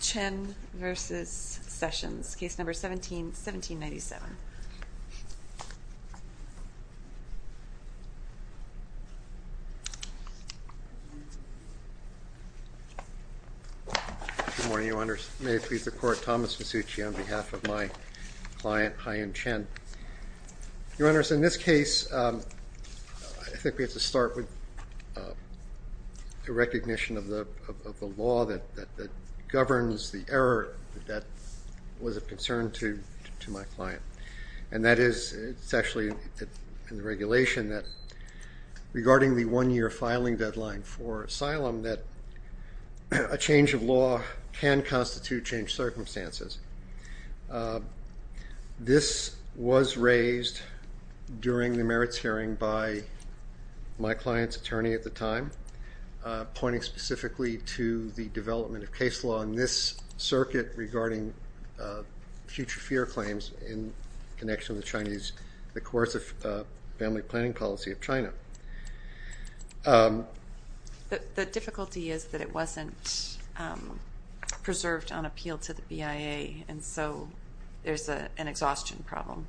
Chen v. Sessions, Case No. 17-1797. Good morning, Your Honors. May it please the Court, Thomas Masucci on behalf of my client, Haiyan Chen. Your Honors, in this case, I think we have to start with the recognition of the law that governs the error that was of concern to my client. And that is, it's actually in the regulation that, regarding the one-year filing deadline for asylum, that a change of law can constitute changed circumstances. This was raised during the merits hearing by my client's attorney at the time, pointing specifically to the development of case law in this circuit regarding future fear claims in connection with the coercive family planning policy of China. The difficulty is that it wasn't preserved on appeal to the BIA, and so there's an exhaustion problem.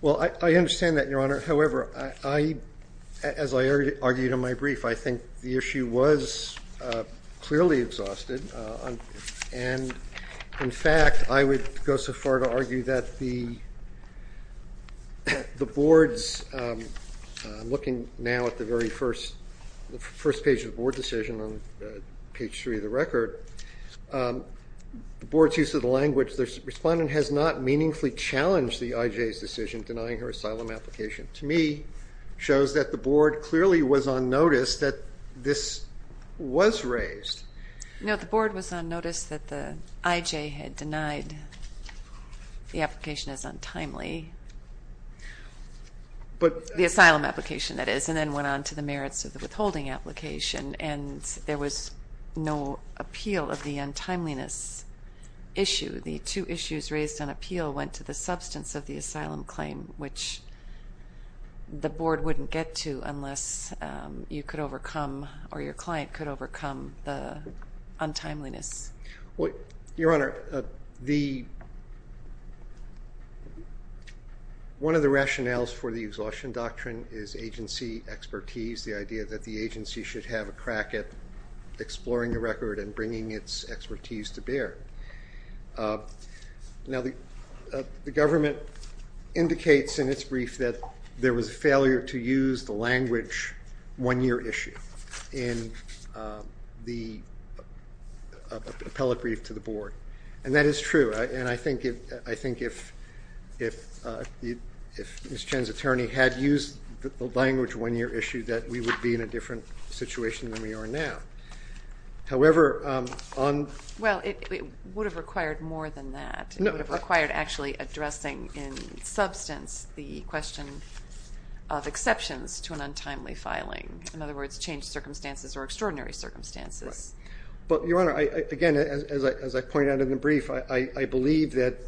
Well, I understand that, Your Honor. However, as I argued in my brief, I think the issue was clearly exhausted. And, in fact, I would go so far to argue that the board's looking now at the very first page of the board decision on page 3 of the record. The board's use of the language, the respondent has not meaningfully challenged the IJ's decision denying her asylum application. To me, it shows that the board clearly was on notice that this was raised. No, the board was on notice that the IJ had denied the application as untimely. The asylum application, that is, and then went on to the merits of the withholding application. And there was no appeal of the untimeliness issue. The two issues raised on appeal went to the substance of the asylum claim, which the board wouldn't get to unless you could overcome, or your client could overcome, the untimeliness. Well, Your Honor, one of the rationales for the exhaustion doctrine is agency expertise, the idea that the agency should have a crack at exploring the record and bringing its expertise to bear. Now, the government indicates in its brief that there was a failure to use the language one-year issue in the appellate brief to the board. And that is true. And I think if Ms. Chen's attorney had used the language one-year issue that we would be in a different situation than we are now. However, on... Well, it would have required more than that. It would have required actually addressing in substance the question of exceptions to an untimely filing. In other words, changed circumstances or extraordinary circumstances. But, Your Honor, again, as I pointed out in the brief, I believe that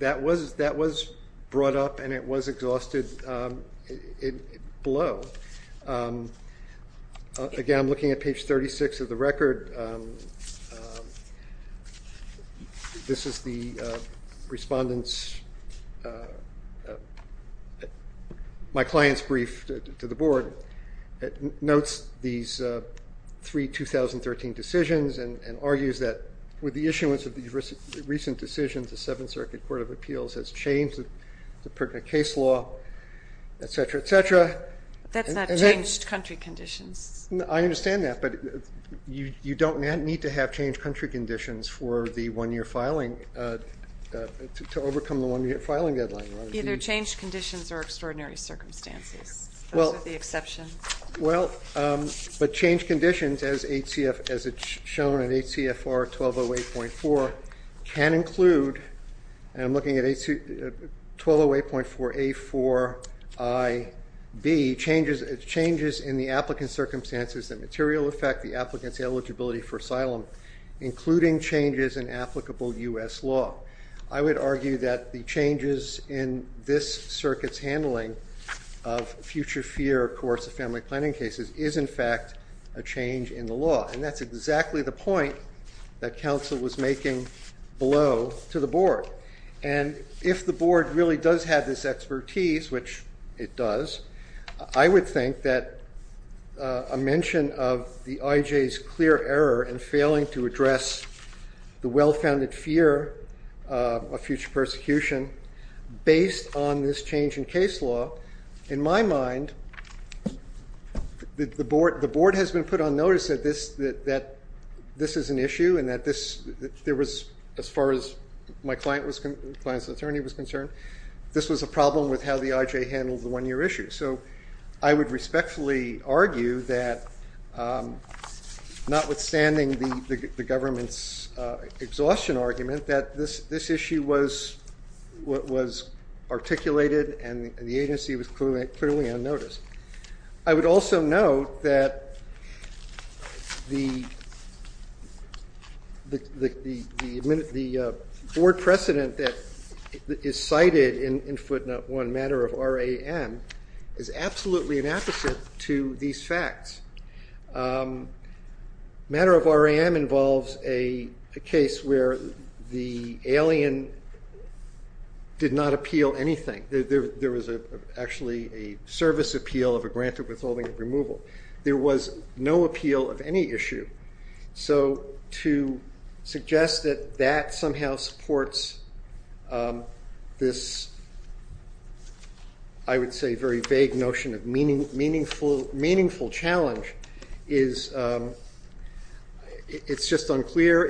that was brought up and it was exhausted below. Again, I'm looking at page 36 of the record. This is the respondent's, my client's brief to the board. It notes these three 2013 decisions and argues that with the issuance of these recent decisions, the Seventh Circuit Court of Appeals has changed the case law, et cetera, et cetera. That's not changed country conditions. I understand that, but you don't need to have changed country conditions for the one-year filing to overcome the one-year filing deadline. Either changed conditions or extraordinary circumstances. Those are the exceptions. Well, but changed conditions as shown in HCFR 1208.4 can include, and I'm looking at 1208.4A4IB, changes in the applicant's circumstances that material effect the applicant's eligibility for asylum, including changes in applicable U.S. law. I would argue that the changes in this circuit's handling of future fear of coercive family planning cases is, in fact, a change in the law. And that's exactly the point that counsel was making below to the board. And if the board really does have this expertise, which it does, I would think that a mention of the IJ's clear error in failing to address the well-founded fear of future persecution based on this change in case law, in my opinion, that this is an issue and that there was, as far as my client's attorney was concerned, this was a problem with how the IJ handled the one-year issue. So I would respectfully argue that, notwithstanding the government's exhaustion argument, that this issue was articulated and the agency was clearly on notice. I would also note that the board precedent that is cited in footnote 1, matter of RAM, is absolutely inapposite to these facts. Matter of RAM involves a case where the alien did not appeal anything. There was actually a service appeal of a granted withholding of removal. There was no appeal of any issue. So to suggest that that somehow supports this, I would say, very vague notion of meaningful challenge is just unclear.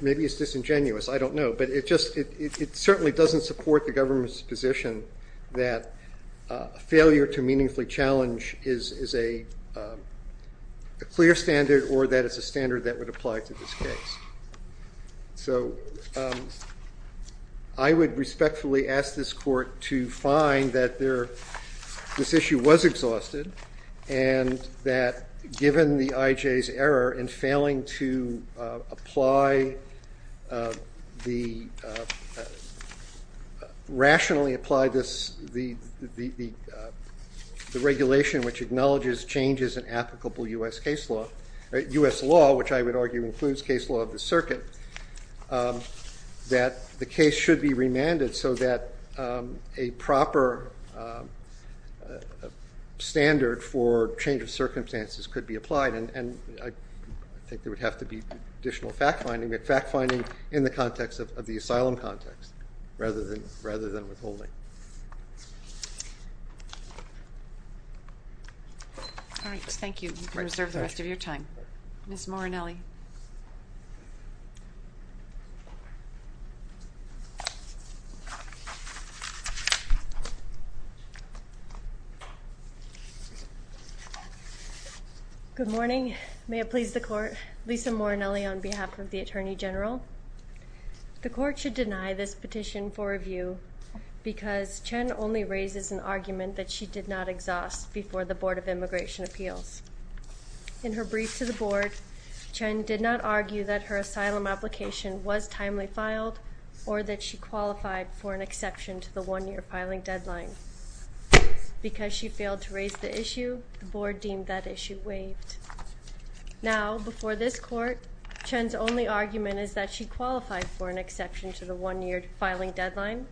Maybe it's disingenuous. I don't know. But it certainly doesn't support the government's position that failure to meaningfully challenge is a clear standard or that it's a standard that would apply to this case. I would respectfully ask this court to find that this issue was exhausted and that given the IJ's error in failing to rationally apply the regulation which acknowledges changes in applicable US law, which I would argue includes case law of the circuit, that the case should be remanded so that a proper standard for change of circumstances could be applied. And I think there would have to be additional fact-finding, but fact-finding in the context of the asylum context rather than withholding. All right. Thank you. You can reserve the rest of your time. Ms. Morinelli. Good morning. May it please the court. Lisa Morinelli on behalf of the Attorney General. The court should deny this petition for review because Chen only raises an argument that she did not exhaust before the Board of Immigration Appeals. In her brief to the board, Chen did not argue that her asylum application was timely filed or that she qualified for an exception to the one-year filing deadline. Because she failed to raise the issue, the board deemed that issue waived. Now, before this court, Chen's only argument is that she qualified for an exception to the one-year filing deadline.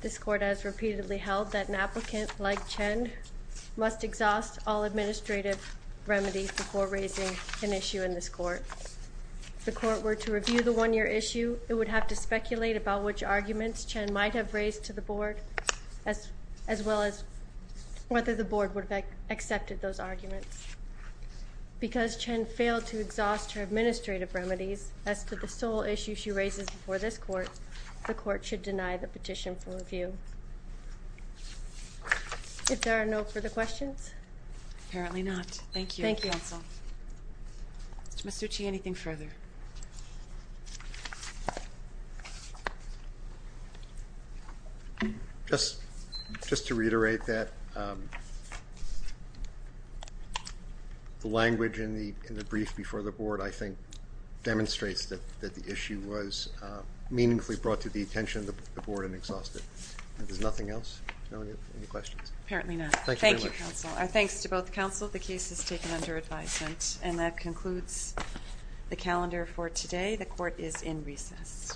This court has repeatedly held that an applicant like Chen must exhaust all administrative remedies before raising an issue in this court. If the court were to review the one-year issue, it would have to speculate about which arguments Chen might have raised to the board as well as whether the board would have accepted those arguments. Because Chen failed to exhaust her administrative remedies as to the sole issue she raises before this court, the court should deny the petition for review. If there are no further questions? Apparently not. Thank you. Thank you, counsel. Mr. Masucci, anything further? Just to reiterate that the language in the brief before the board, I think, demonstrates that the issue was meaningfully brought to the attention of the board and exhausted. Is there nothing else? No? Any questions? Apparently not. Thank you, counsel. Our thanks to both counsel. The case is taken under advisement. And that concludes the calendar for today. The court is in recess.